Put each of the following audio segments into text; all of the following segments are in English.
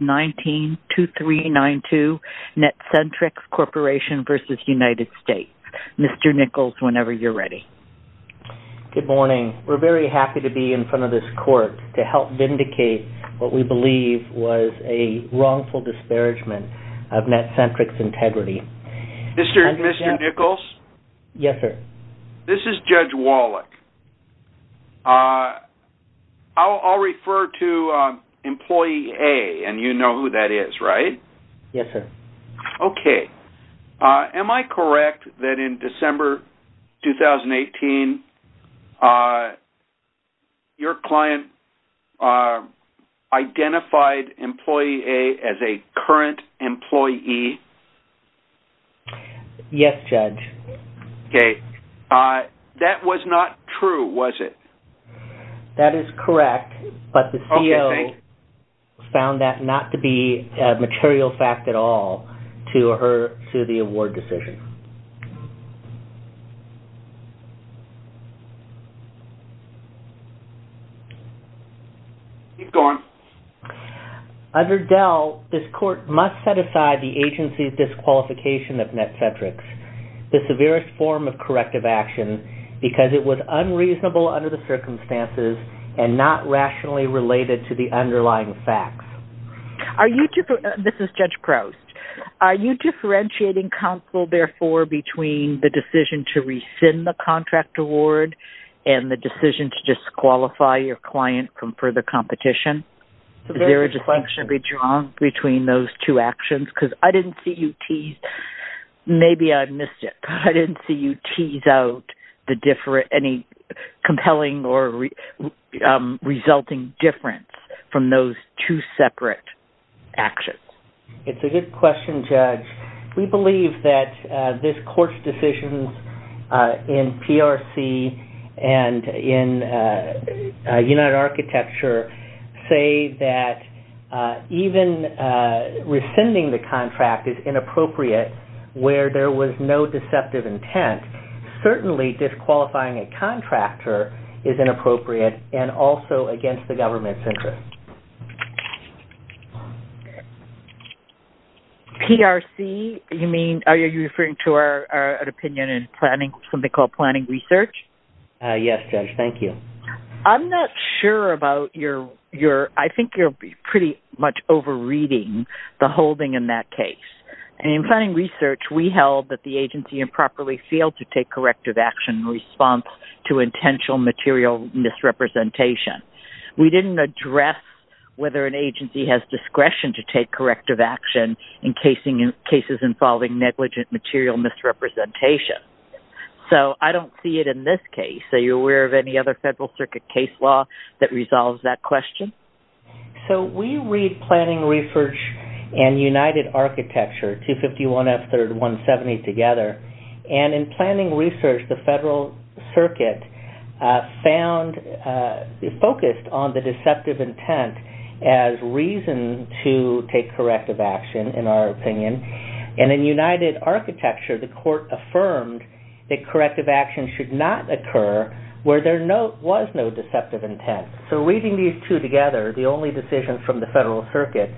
192392 Netcentrics Corporation v. United States. Mr. Nichols, whenever you're ready. Good morning. We're very happy to be in front of this court to help vindicate what we believe was a wrongful disparagement of Netcentrics integrity. Mr. Nichols? Yes, sir. This is Judge Wallach. I'll refer to employee A, and you know who that is, right? Yes, sir. Okay. Am I correct that in December 2018, your client identified employee A as a current employee? Yes, Judge. Okay. That was not true, was it? That is correct, but the CEO found that not to be a material fact at all to her, to the award decision. Keep going. Under DEL, this court must set aside the agency's disqualification of Netcentrics, the severest form of corrective action, because it was unreasonable under the circumstances and not rationally related to the underlying facts. Are you, this is Judge Proust, are you differentiating counsel, therefore, between the decision to rescind the contract award and the decision to disqualify your client from further competition? Is there a distinction to be drawn between those two actions? Because I didn't see you Maybe I missed it. I didn't see you tease out any compelling or resulting difference from those two separate actions. It's a good question, Judge. We believe that this court's decisions in PRC and in United Architecture say that even rescinding the where there was no deceptive intent, certainly disqualifying a contractor is inappropriate and also against the government's interest. PRC, you mean, are you referring to our opinion in planning, something called planning research? Yes, Judge. Thank you. I'm not sure about your, I think you're pretty much over-reading the holding in that case. In planning research, we held that the agency improperly failed to take corrective action in response to intentional material misrepresentation. We didn't address whether an agency has discretion to take corrective action in cases involving negligent material misrepresentation. So, I don't see it in this case. Are you aware of any other Federal Circuit case law that resolves that question? So, we read planning research and United Architecture 251F3-170 together. And in planning research, the Federal Circuit found, focused on the deceptive intent as reason to take corrective action, in our opinion. And in United Architecture, the court affirmed that corrective action should not occur where there was no deceptive intent. So, reading these two together, the only decision from the Federal Circuit,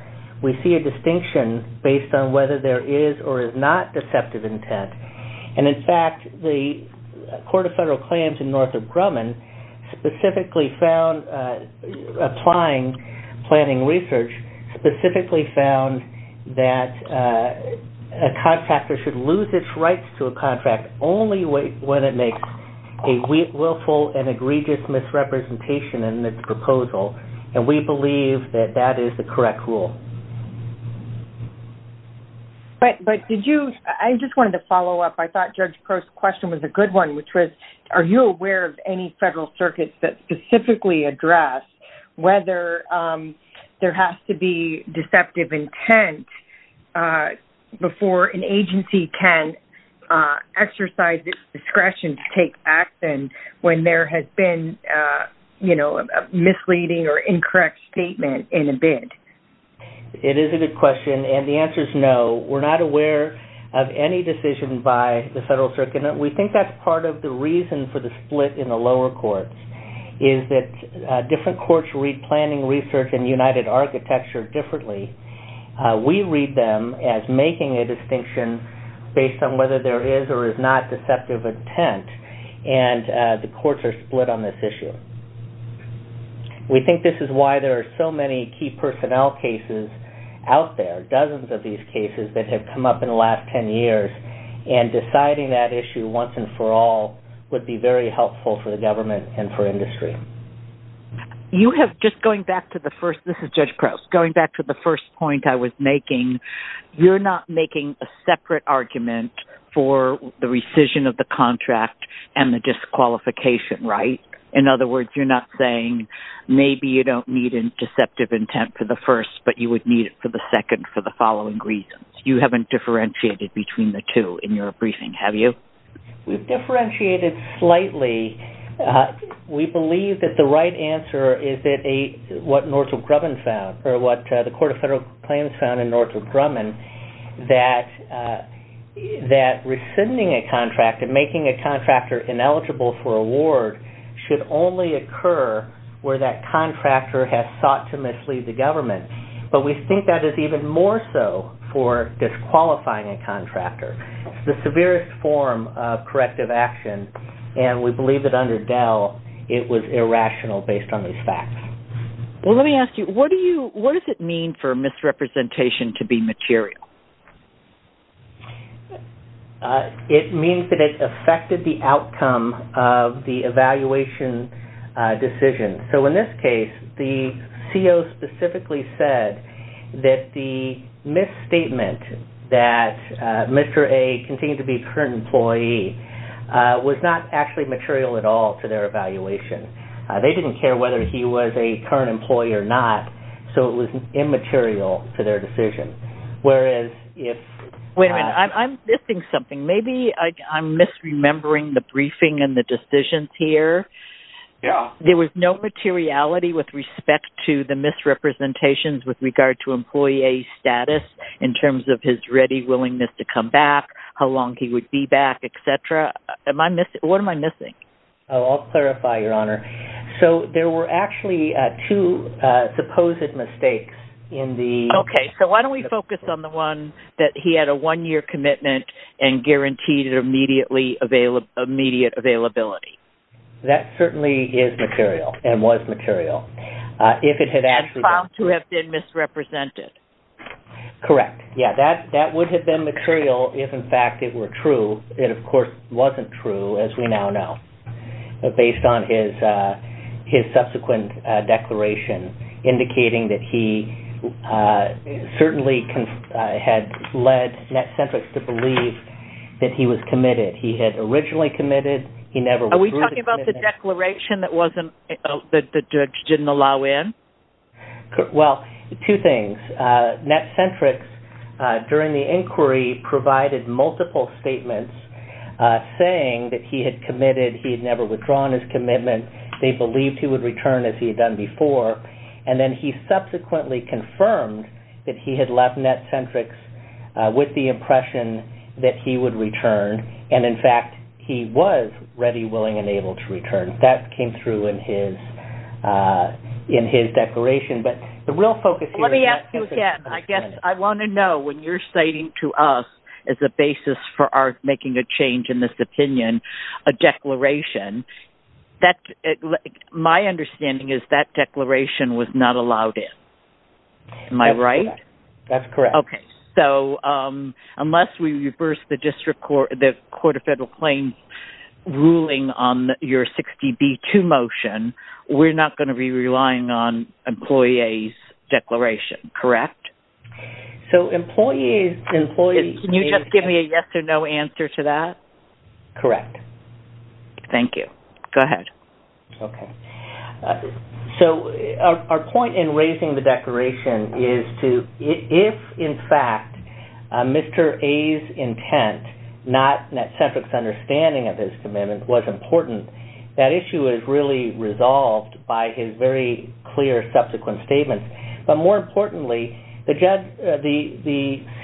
we see a distinction based on whether there is or is not deceptive intent. And in fact, the Court of Federal Claims in Northrop Grumman specifically found, applying planning research, specifically found that a contractor should lose its rights to a contract only when it makes a willful and egregious misrepresentation in its proposal. And we believe that that is the correct rule. But did you... I just wanted to follow up. I thought Judge Crow's question was a good one, which was, are you aware of any Federal Circuits that specifically address whether there has to be deceptive intent before an agency can exercise its discretion to take action when there has been, you know, a misleading or incorrect statement in a bid? It is a good question, and the answer is no. We're not aware of any decision by the Federal Circuit, and we think that's part of the reason for the split in the lower courts, is that different courts read planning research and United Architecture differently. We read them as making a distinction based on whether there is or is not deceptive intent, and the courts are split on this issue. We think this is why there are so many key personnel cases out there, dozens of these cases that have come up in the last 10 years, and deciding that issue once and for all would be very helpful for the government and for industry. You have... Just going back to the first... This is Judge Crow. Going back to the first point I was making, you're not making a separate argument for the rescission of the contract and the disqualification, right? In other words, you're not saying maybe you don't need deceptive intent for the first, but you would need it for the second for the following reasons. You haven't differentiated between the two in your briefing, have you? We've differentiated slightly. We believe that the right answer is what Northrop Grumman found, or what the Court of Federal Plans found in Northrop Grumman, that rescinding a contract and making a contractor ineligible for award should only occur where that contractor has sought to mislead the government. But we think that is even more so for disqualifying a contractor. It's the severest form of corrective action, and we believe that under Dell, it was irrational based on these facts. Well, let me ask you, what do you... What does it mean for misrepresentation to be material? It means that it affected the outcome of the evaluation decision. So, in this case, the CO specifically said that the misstatement that Mr. A continued to be a current employee was not actually material at all to their evaluation. They didn't care whether he was a current employee or not, so it was immaterial to their decision, whereas if... I'm misremembering the briefing and the decisions here. Yeah. There was no materiality with respect to the misrepresentations with regard to employee A's status in terms of his ready willingness to come back, how long he would be back, etc. Am I missing... What am I missing? Oh, I'll clarify, Your Honor. So, there were actually two supposed mistakes in the... Okay, so why don't we focus on the one that he had a one-year commitment and guaranteed immediate availability? That certainly is material and was material. If it had actually... And found to have been misrepresented. Correct. Yeah, that would have been material if, in fact, it were true. It, of course, wasn't true, as we now know, based on his subsequent declaration indicating that he had committed. He had originally committed. He never withdrew the commitment. Are we talking about the declaration that wasn't... that the judge didn't allow in? Well, two things. NetCentrix, during the inquiry, provided multiple statements saying that he had committed, he had never withdrawn his commitment, they believed he would return as he had done before, and then he subsequently confirmed that he had left NetCentrix with the impression that he would return, and, in fact, he was ready, willing, and able to return. That came through in his declaration, but the real focus here is... Let me ask you again. I guess I want to know, when you're citing to us as a basis for our making a change in this opinion, a declaration, my understanding is that declaration was not allowed in. Am I right? That's correct. Okay. So, unless we reverse the Court of Federal Claims ruling on your 60B2 motion, we're not going to be relying on Employee A's declaration, correct? So, Employee A's... Can you just give me a yes or no answer to that? Correct. Thank you. Go ahead. Okay. So, our point in raising the declaration is to... If, in fact, Mr. A's intent, not NetCentrix's understanding of his commitment, was important, that issue is really resolved by his very clear subsequent statements, but, more importantly, the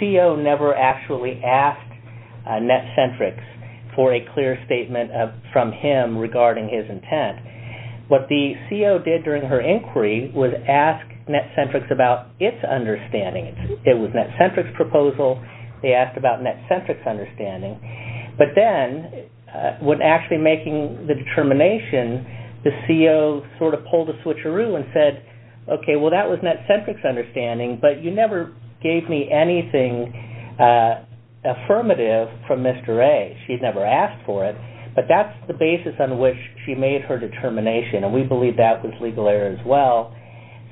CO never actually asked NetCentrix for a clear statement from him regarding his intent. What the CO did during her inquiry was ask NetCentrix about its understanding. It was NetCentrix's proposal. They asked about NetCentrix's understanding, but then, when actually making the determination, the CO sort of pulled a switcheroo and said, okay, well, that was NetCentrix's understanding, but you never gave me anything affirmative from Mr. A. She never asked for it, but that's the basis on which she made her determination, and we believe that was legal error as well.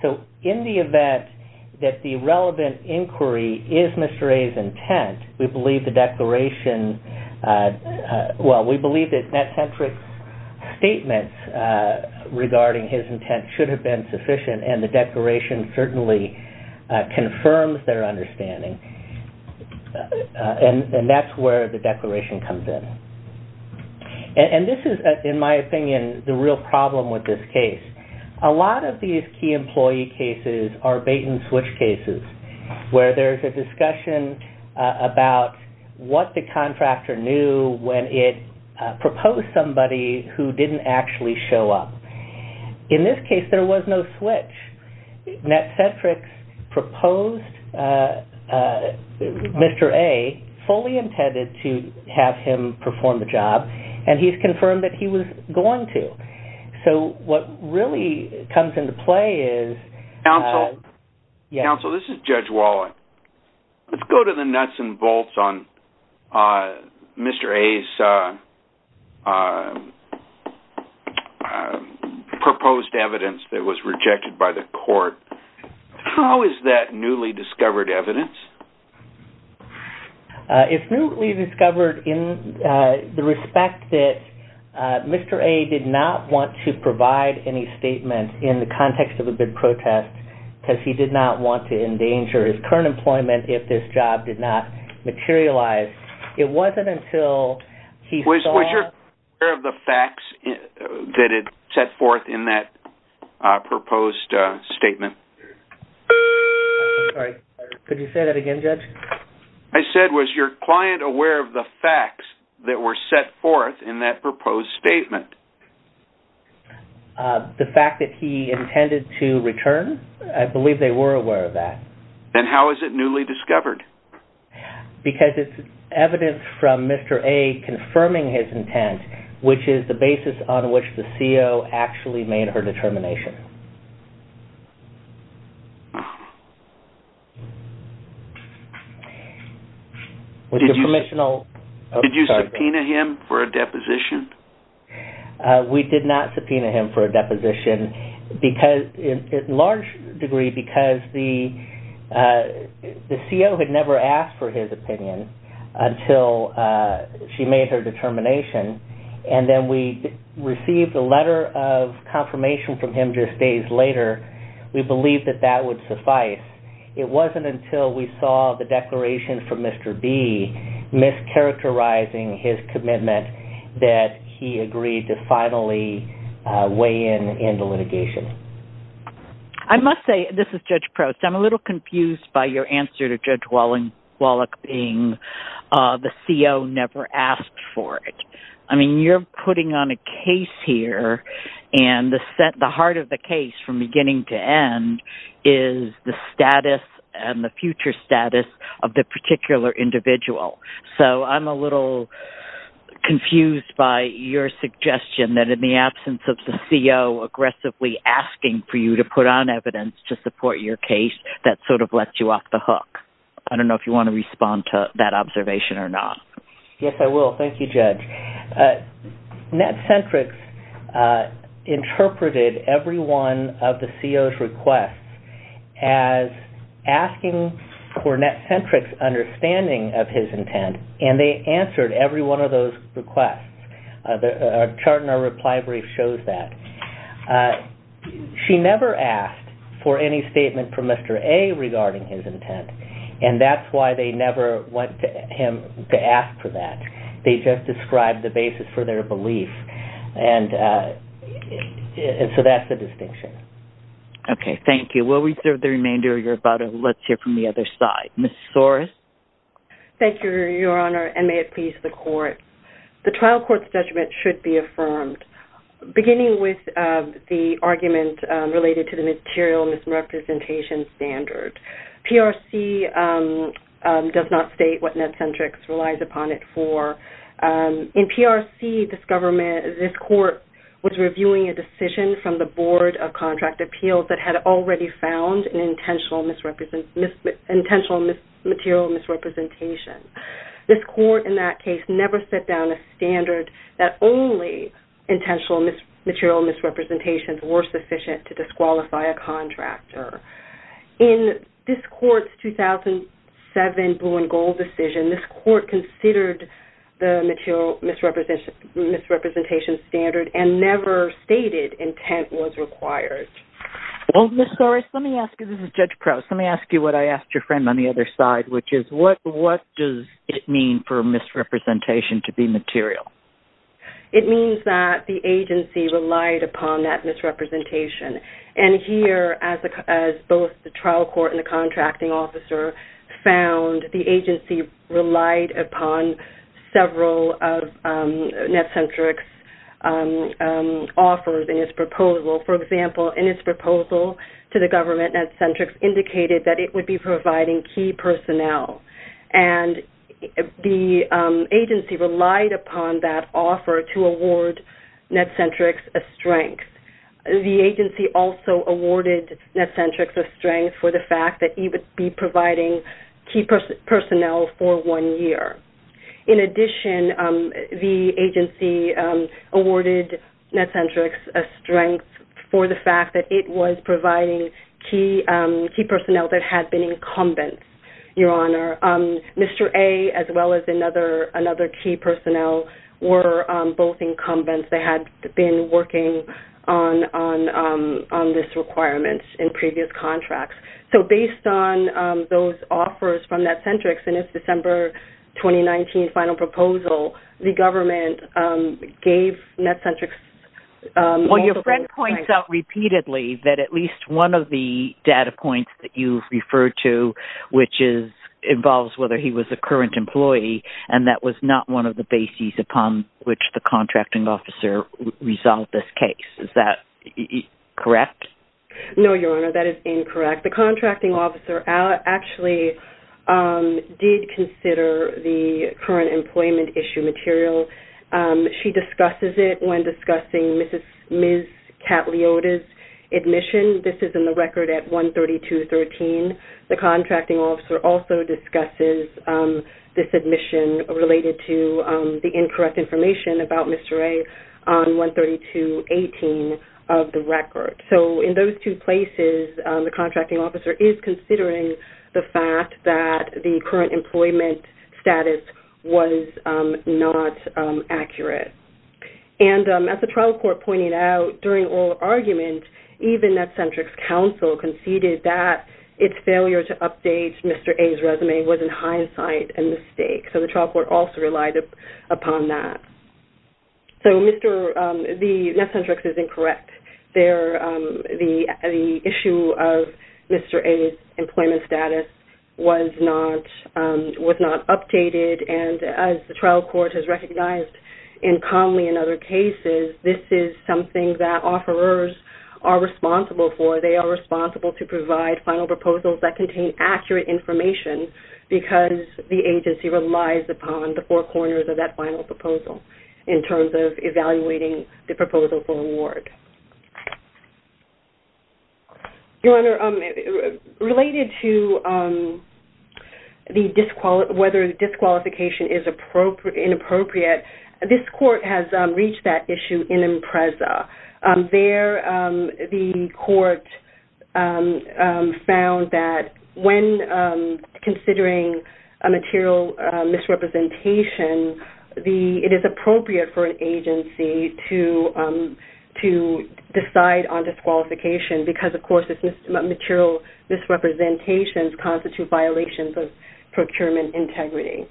So, in the event that the relevant inquiry is Mr. A's intent, we believe the declaration... Well, we believe that NetCentrix's statement regarding his intent should have been sufficient, and the declaration certainly confirms their understanding, and that's where the declaration comes in. And this is, in my opinion, the real problem with this case. A lot of these key employee cases are bait-and-switch cases, where there's a discussion about what the contractor knew when it proposed somebody who didn't actually show up. In this case, there was no switch. NetCentrix proposed Mr. A, fully intended to have him perform the job, and he's confirmed that he was going to. So, what really comes into play is... Counsel, this is Judge Waller. Let's go to the nuts and bolts on Mr. A's... I'm sorry. I'm sorry. ...proposed evidence that was rejected by the court. How is that newly discovered evidence? It's newly discovered in the respect that Mr. A did not want to provide any statement in the context of a bid protest, because he did not want to endanger his current employment if this job did not materialize. It wasn't until he saw... ...that it set forth in that proposed statement. I'm sorry. Could you say that again, Judge? I said, was your client aware of the facts that were set forth in that proposed statement? The fact that he intended to return? I believe they were aware of that. And how is it newly discovered? Because it's evidence from Mr. A confirming his intent, which is the basis on which the CO actually made her determination. Did you subpoena him for a deposition? We did not subpoena him for a deposition, because in large degree, because the CO had never asked for his opinion until she made her determination, and then we received a letter of confirmation from him just days later, we believed that that would suffice. It wasn't until we saw the declaration from Mr. B mischaracterizing his commitment that he agreed to finally weigh in in the litigation. I must say, this is Judge Prost, I'm a little confused by your answer to Judge Wallach being the CO never asked for it. I mean, you're putting on a case here, and the heart of the case from beginning to end is the status and the future status of the particular individual. So I'm a little confused by your suggestion that in the absence of the CO aggressively asking for you to put on evidence to support your case, that sort of lets you off the hook. I don't know if you want to respond to that observation or not. Yes, I will. Thank you, Judge. Netcentrics interpreted every one of the CO's requests as asking for Netcentrics' understanding of his intent, and they answered every one of those requests. Our chart in our reply brief shows that. She never asked for any statement from Mr. A regarding his intent, and that's why they never want him to ask for that. They just described the basis for their belief, and so that's the distinction. Okay, thank you. We'll reserve the remainder of your time. Let's hear from the other side. Ms. Torres? Thank you, Your Honor, and may it please the Court. The trial court's judgment should be affirmed. Beginning with the argument related to the material misrepresentation standard, PRC does not state what Netcentrics relies upon it for. In PRC, this Court was reviewing a decision from the Board of Contract Appeals that had already found an intentional material misrepresentation. This Court in that case never set down a standard that only intentional material misrepresentations were sufficient to disqualify a contractor. In this Court's 2007 Blue and Gold decision, this Court considered the material misrepresentation standard and never stated intent was required. Well, Ms. Torres, let me ask you, this is Judge Crouse, let me ask you what I asked your friend on the other side, which is what does it mean for misrepresentation to be material? It means that the agency relied upon that misrepresentation. And here, as both the trial court and the contracting officer found, the agency relied upon several of Netcentrics offers in its proposal. For example, in its proposal to the government, Netcentrics indicated that it would be providing key personnel. And the agency relied upon that offer to award Netcentrics a strength. The agency also awarded Netcentrics a strength for the fact that it would be providing key personnel for one year. In addition, the agency awarded Netcentrics a strength for the fact that it was providing key personnel that had been incumbents, Your Honor. Mr. A, as well as another key personnel, were both incumbents that had been working on this requirement in previous contracts. So based on those offers from Netcentrics in its December 2019 final proposal, the government gave Netcentrics... Well, your friend points out repeatedly that at least one of the data points that you referred to, which involves whether he was a current employee, and that was not one of the bases upon which the contracting officer resolved this case. Is that correct? No, Your Honor. That is incorrect. The contracting officer actually did consider the current employment issue material. She discusses it when discussing Ms. Catliota's admission. This is in the record at 132.13. The contracting officer also discusses this admission related to the incorrect information about Mr. A on 132.18 of the record. So in those two places, the contracting officer is considering the fact that the current employment status was not accurate. As the trial court pointed out during oral argument, even Netcentrics counsel conceded that its failure to update Mr. A's resume was in hindsight a mistake. So the agency relied upon that. So Netcentrics is incorrect. The issue of Mr. A's employment status was not updated. As the trial court has recognized in commonly in other cases, this is something that offerers are responsible for. They are responsible to provide final corners of that final proposal in terms of evaluating the proposal for award. Your Honor, related to whether disqualification is inappropriate, this court has reached that issue in Impreza. There, the court found that when considering a material misrepresentation it is appropriate for an agency to decide on disqualification because, of course, this material misrepresentation constitutes violations of procurement integrity.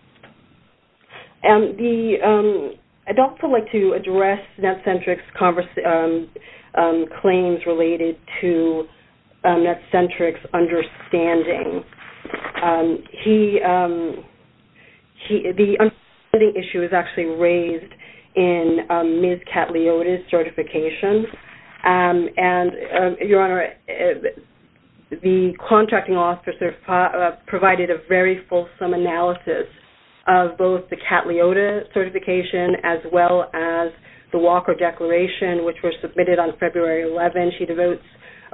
I'd also like to address Netcentrics' claims related to Netcentrics' understanding. The understanding issue is actually raised in Ms. Catliota's certification. Your Honor, the contracting officer provided a very fulsome analysis of both the Catliota certification as well as the Walker Declaration, which were submitted on February 11. She devotes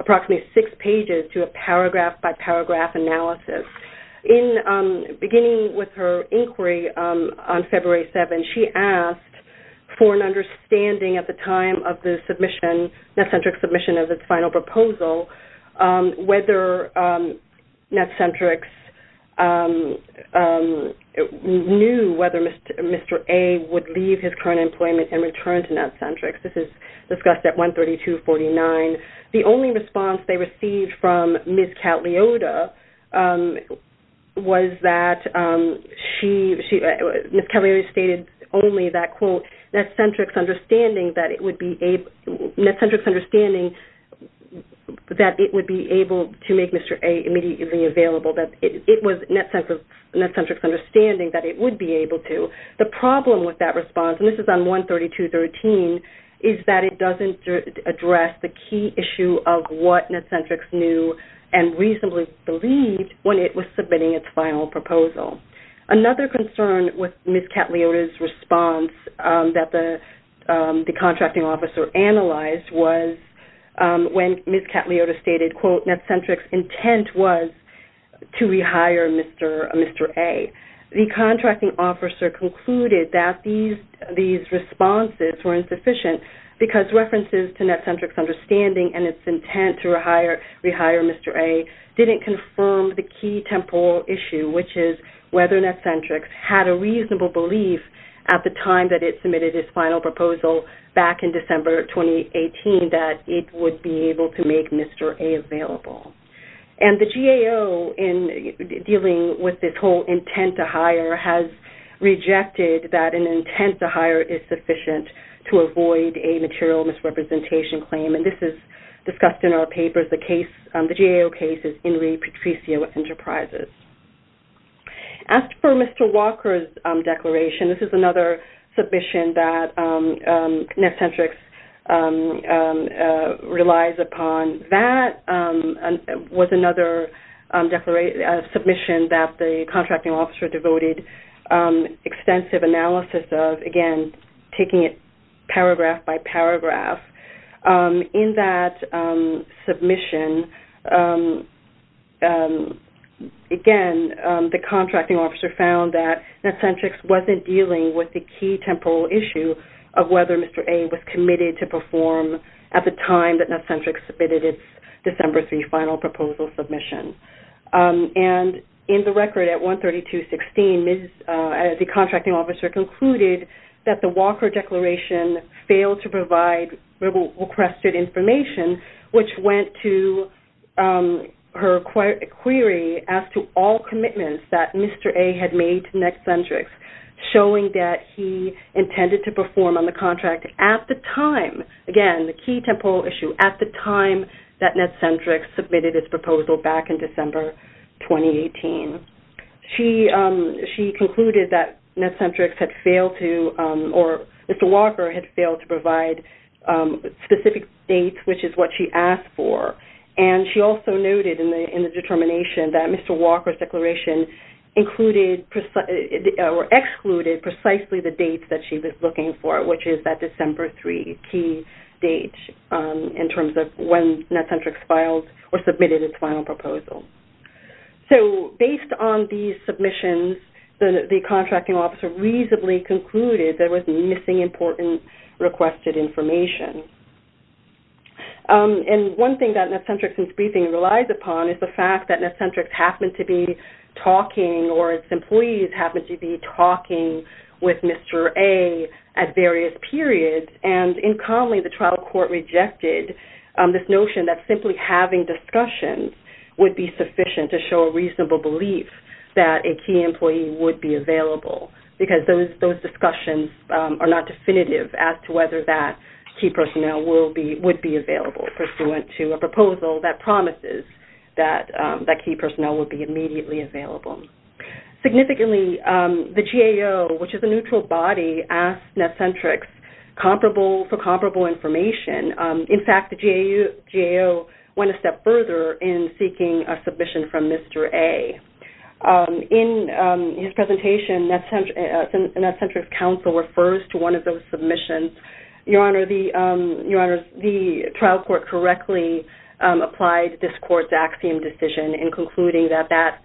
approximately six pages to a paragraph-by-paragraph analysis. Beginning with her inquiry on February 7, she asked for an understanding at the time of the Netcentrics' submission of its final proposal whether Netcentrics knew whether Mr. A would leave his current employment and the response that she received from Ms. Catliota was that Ms. Catliota stated only that, quote, Netcentrics' understanding that it would be able to make Mr. A immediately available. It was Netcentrics' understanding that it would be able to. The problem with that response, and this is on 132.13, is that it doesn't address the key issue of what Netcentrics knew and reasonably believed when it was submitting its final proposal. Another concern with Ms. Catliota's response that the contracting officer analyzed was when Ms. Catliota stated, quote, Netcentrics' intent was to rehire Mr. A. The contracting officer concluded that these responses were insufficient because references to Netcentrics' understanding and its intent to rehire Mr. A didn't confirm the key temporal issue, which is whether Netcentrics had a reasonable belief at the time that it submitted its final proposal back in December 2018 that it would be able to make Mr. A available. And the GAO, in dealing with this whole intent to hire, has rejected that an intent to hire is sufficient to avoid a material misrepresentation claim. And this is discussed in our papers. The GAO case is Henry Patricio Enterprises. As for Mr. Walker's declaration, this is another submission that Netcentrics relies upon. That another submission that Mr. Walker was another submission that the contracting officer devoted extensive analysis of, again, taking it paragraph by paragraph. In that submission, again, the contracting officer found that Netcentrics wasn't dealing with the key temporal issue of whether Mr. A was available for a final proposal submission. And in the record at 132.16, the contracting officer concluded that the Walker declaration failed to provide requested information, which went to her query as to all commitments that Mr. A had made to Netcentrics, showing that he intended to perform on the contract at the time, again, the key temporal issue, at the time that Netcentrics submitted its proposal back in December 2018. She concluded that Netcentrics had failed to, or Mr. Walker had failed to provide specific dates, which is what she asked for. And she also noted in the determination that Mr. Walker's declaration excluded precisely the dates that she was looking for, which is that December 3 key date, in terms of when Netcentrics filed or submitted its final proposal. So, based on these submissions, the contracting officer reasonably concluded there was missing important requested information. And one thing that Netcentrics in its briefing relies upon is the fact that Netcentrics happened to be talking, or its employees happened to be talking with Mr. A at various periods. And in common, the trial court rejected this notion that simply having discussions would be sufficient to show a reasonable belief that a key employee would be available, because those discussions are not definitive as to whether that key personnel would be available, pursuant to a proposal that promises that key personnel would be immediately available. Significantly, the GAO, which is a neutral body, asked Netcentrics for comparable information. In fact, the GAO went a step further in seeking a submission from Mr. A. In his presentation, Netcentrics counsel refers to one of those submissions, Your Honor, the trial court correctly applied this court's axiom decision in concluding that that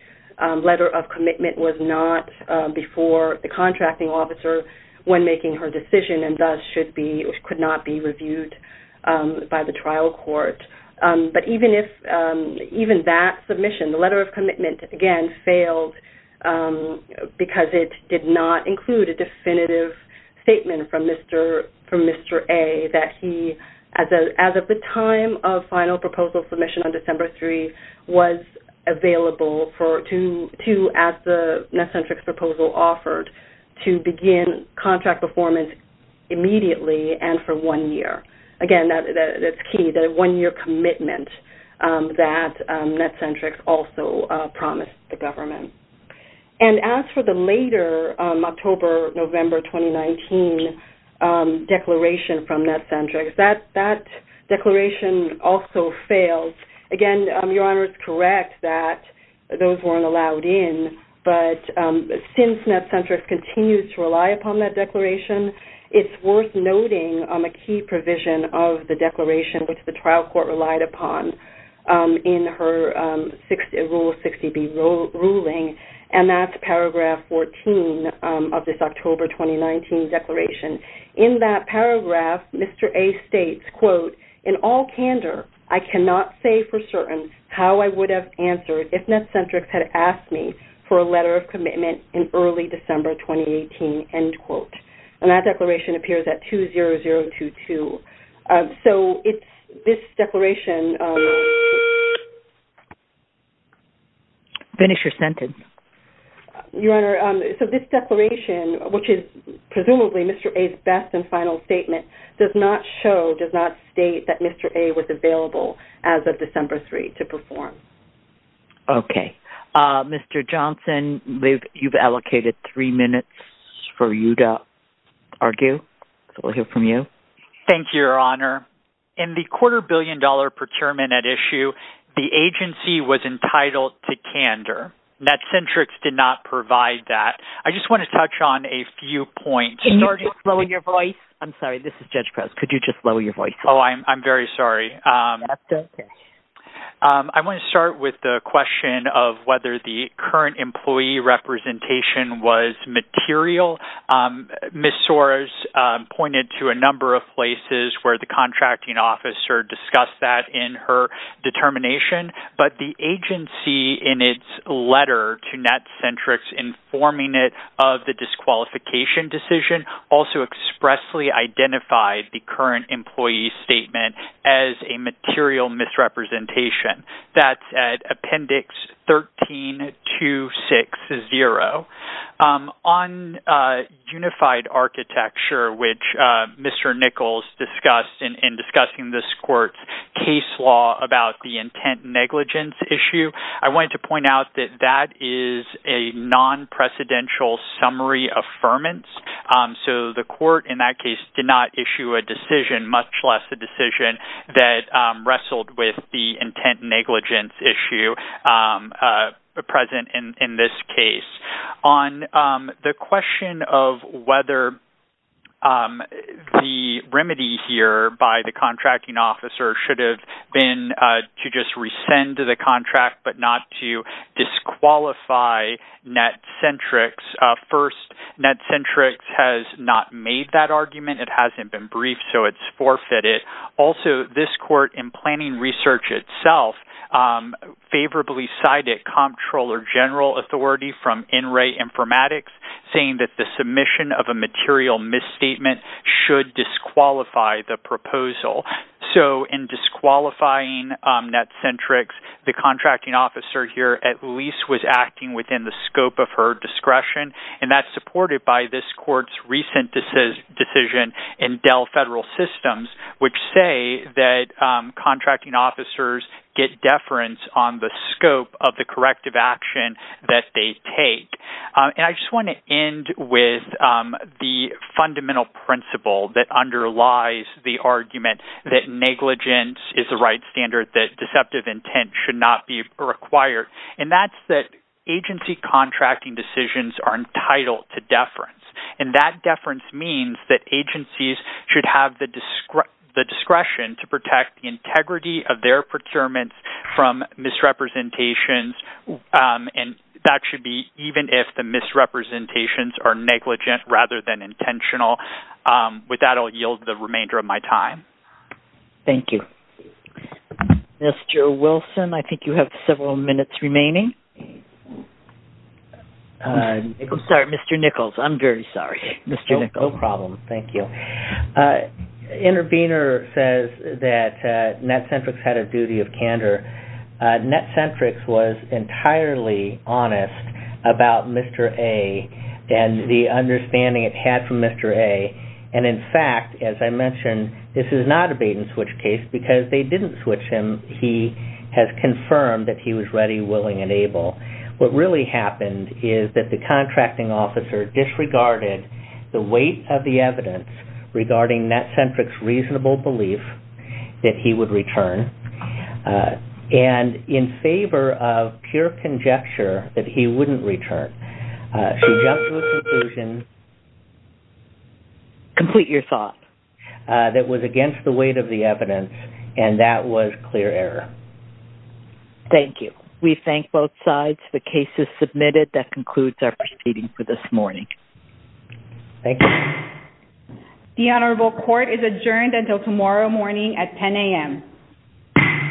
letter of commitment was not before the contracting officer when making her decision, and thus could not be reviewed by the trial court. But even that submission, the letter of commitment, again, failed because it did not include a definitive statement from Mr. A that he, as of the time of final submission, on December 3, was available to, as the Netcentrics proposal offered, to begin contract performance immediately and for one year. Again, that's key, the one-year commitment that Netcentrics also promised the government. And as for the later October-November 2019 declaration from Netcentrics, that declaration also failed. Again, Your Honor is correct that those weren't allowed in, but since Netcentrics continues to rely upon that declaration, it's worth noting a key provision of the declaration which the trial court relied upon in her Rule 60B ruling, and that's paragraph 14 of this document, which says, quote, in the cyander, I cannot say for certain how I would have answered if Netcentrics had asked me for a letter of commitment in early December 2018, end quote. And that declaration appears at 20022. So it's this declaration... Finish your sentence. Your Honor, so this declaration, which is presumably Mr. A's best and final statement, does not show, does not state, that Mr. A was available as of December 3 to perform. Okay. Mr. Johnson, you've allocated three minutes for you to argue. So we'll hear from you. Thank you, Your Honor. In the quarter billion dollar procurement at issue, the agency was entitled to candor. Netcentrics did not provide that. I just want to touch on a few points. Can you just lower your voice? I'm sorry, this is Judge Prez. Could you just lower your voice? Oh, I'm very sorry. I want to start with the question of whether the current employee representation was material. Ms. Soros pointed to a number of places where the contracting officer discussed that in her determination, but the agency in its letter to Netcentrics informing it of the disqualification decision also expressly identified the current employee's statement as a material misrepresentation. That's at appendix 13-260. On unified architecture, which Mr. Nichols discussed in discussing this court's case law about the intent negligence issue, I wanted to point out that that is a non-precedential summary affirmance. So the court in that case did not issue a decision, much less a decision that wrestled with the intent negligence issue present in this case. On the question of whether the remedy here by the not to disqualify Netcentrics, first, Netcentrics has not made that argument. It hasn't been briefed, so it's forfeited. Also, this court in planning research itself favorably cited comptroller general authority from NRA Informatics saying that the submission of a material misstatement should disqualify the proposal. So in disqualifying Netcentrics, the contracting officer here at least was acting within the scope of her discretion, and that's supported by this court's recent decision in Dell Federal Systems, which say that contracting officers get deference on the scope of the corrective action that they take. And I just want to end with the fundamental principle that underlies the argument that negligence is the right standard, that deceptive intent should not be required, and that's that agency contracting decisions are entitled to deference, and that deference means that agencies should have the discretion to protect the integrity of their procurements from misrepresentations, and that should be even if the misrepresentations are negligent rather than intentional. With that, I'll yield the remainder of my time. Thank you. Mr. Wilson, I think you have several minutes remaining. Sorry, Mr. Nichols, I'm very sorry. Mr. Nichols. No problem. Thank you. Intervenor says that Netcentrics had a duty of candor. Netcentrics was entirely honest about Mr. A and the understanding it had from Mr. A, and in fact, as I mentioned, this is not a bait and switch case because they didn't switch him. He has confirmed that he was ready, willing, and able. What really happened is that the contracting officer disregarded the weight of the evidence regarding Netcentrics' reasonable belief that he would return, and in favor of pure conjecture that he wouldn't return, she jumped to a conclusion Complete your thought. That was against the weight of the evidence, and that was clear error. Thank you. We thank both sides. The case is submitted. That concludes our proceeding for this morning. Thank you. The Honorable Court is adjourned until tomorrow morning at 10 a.m.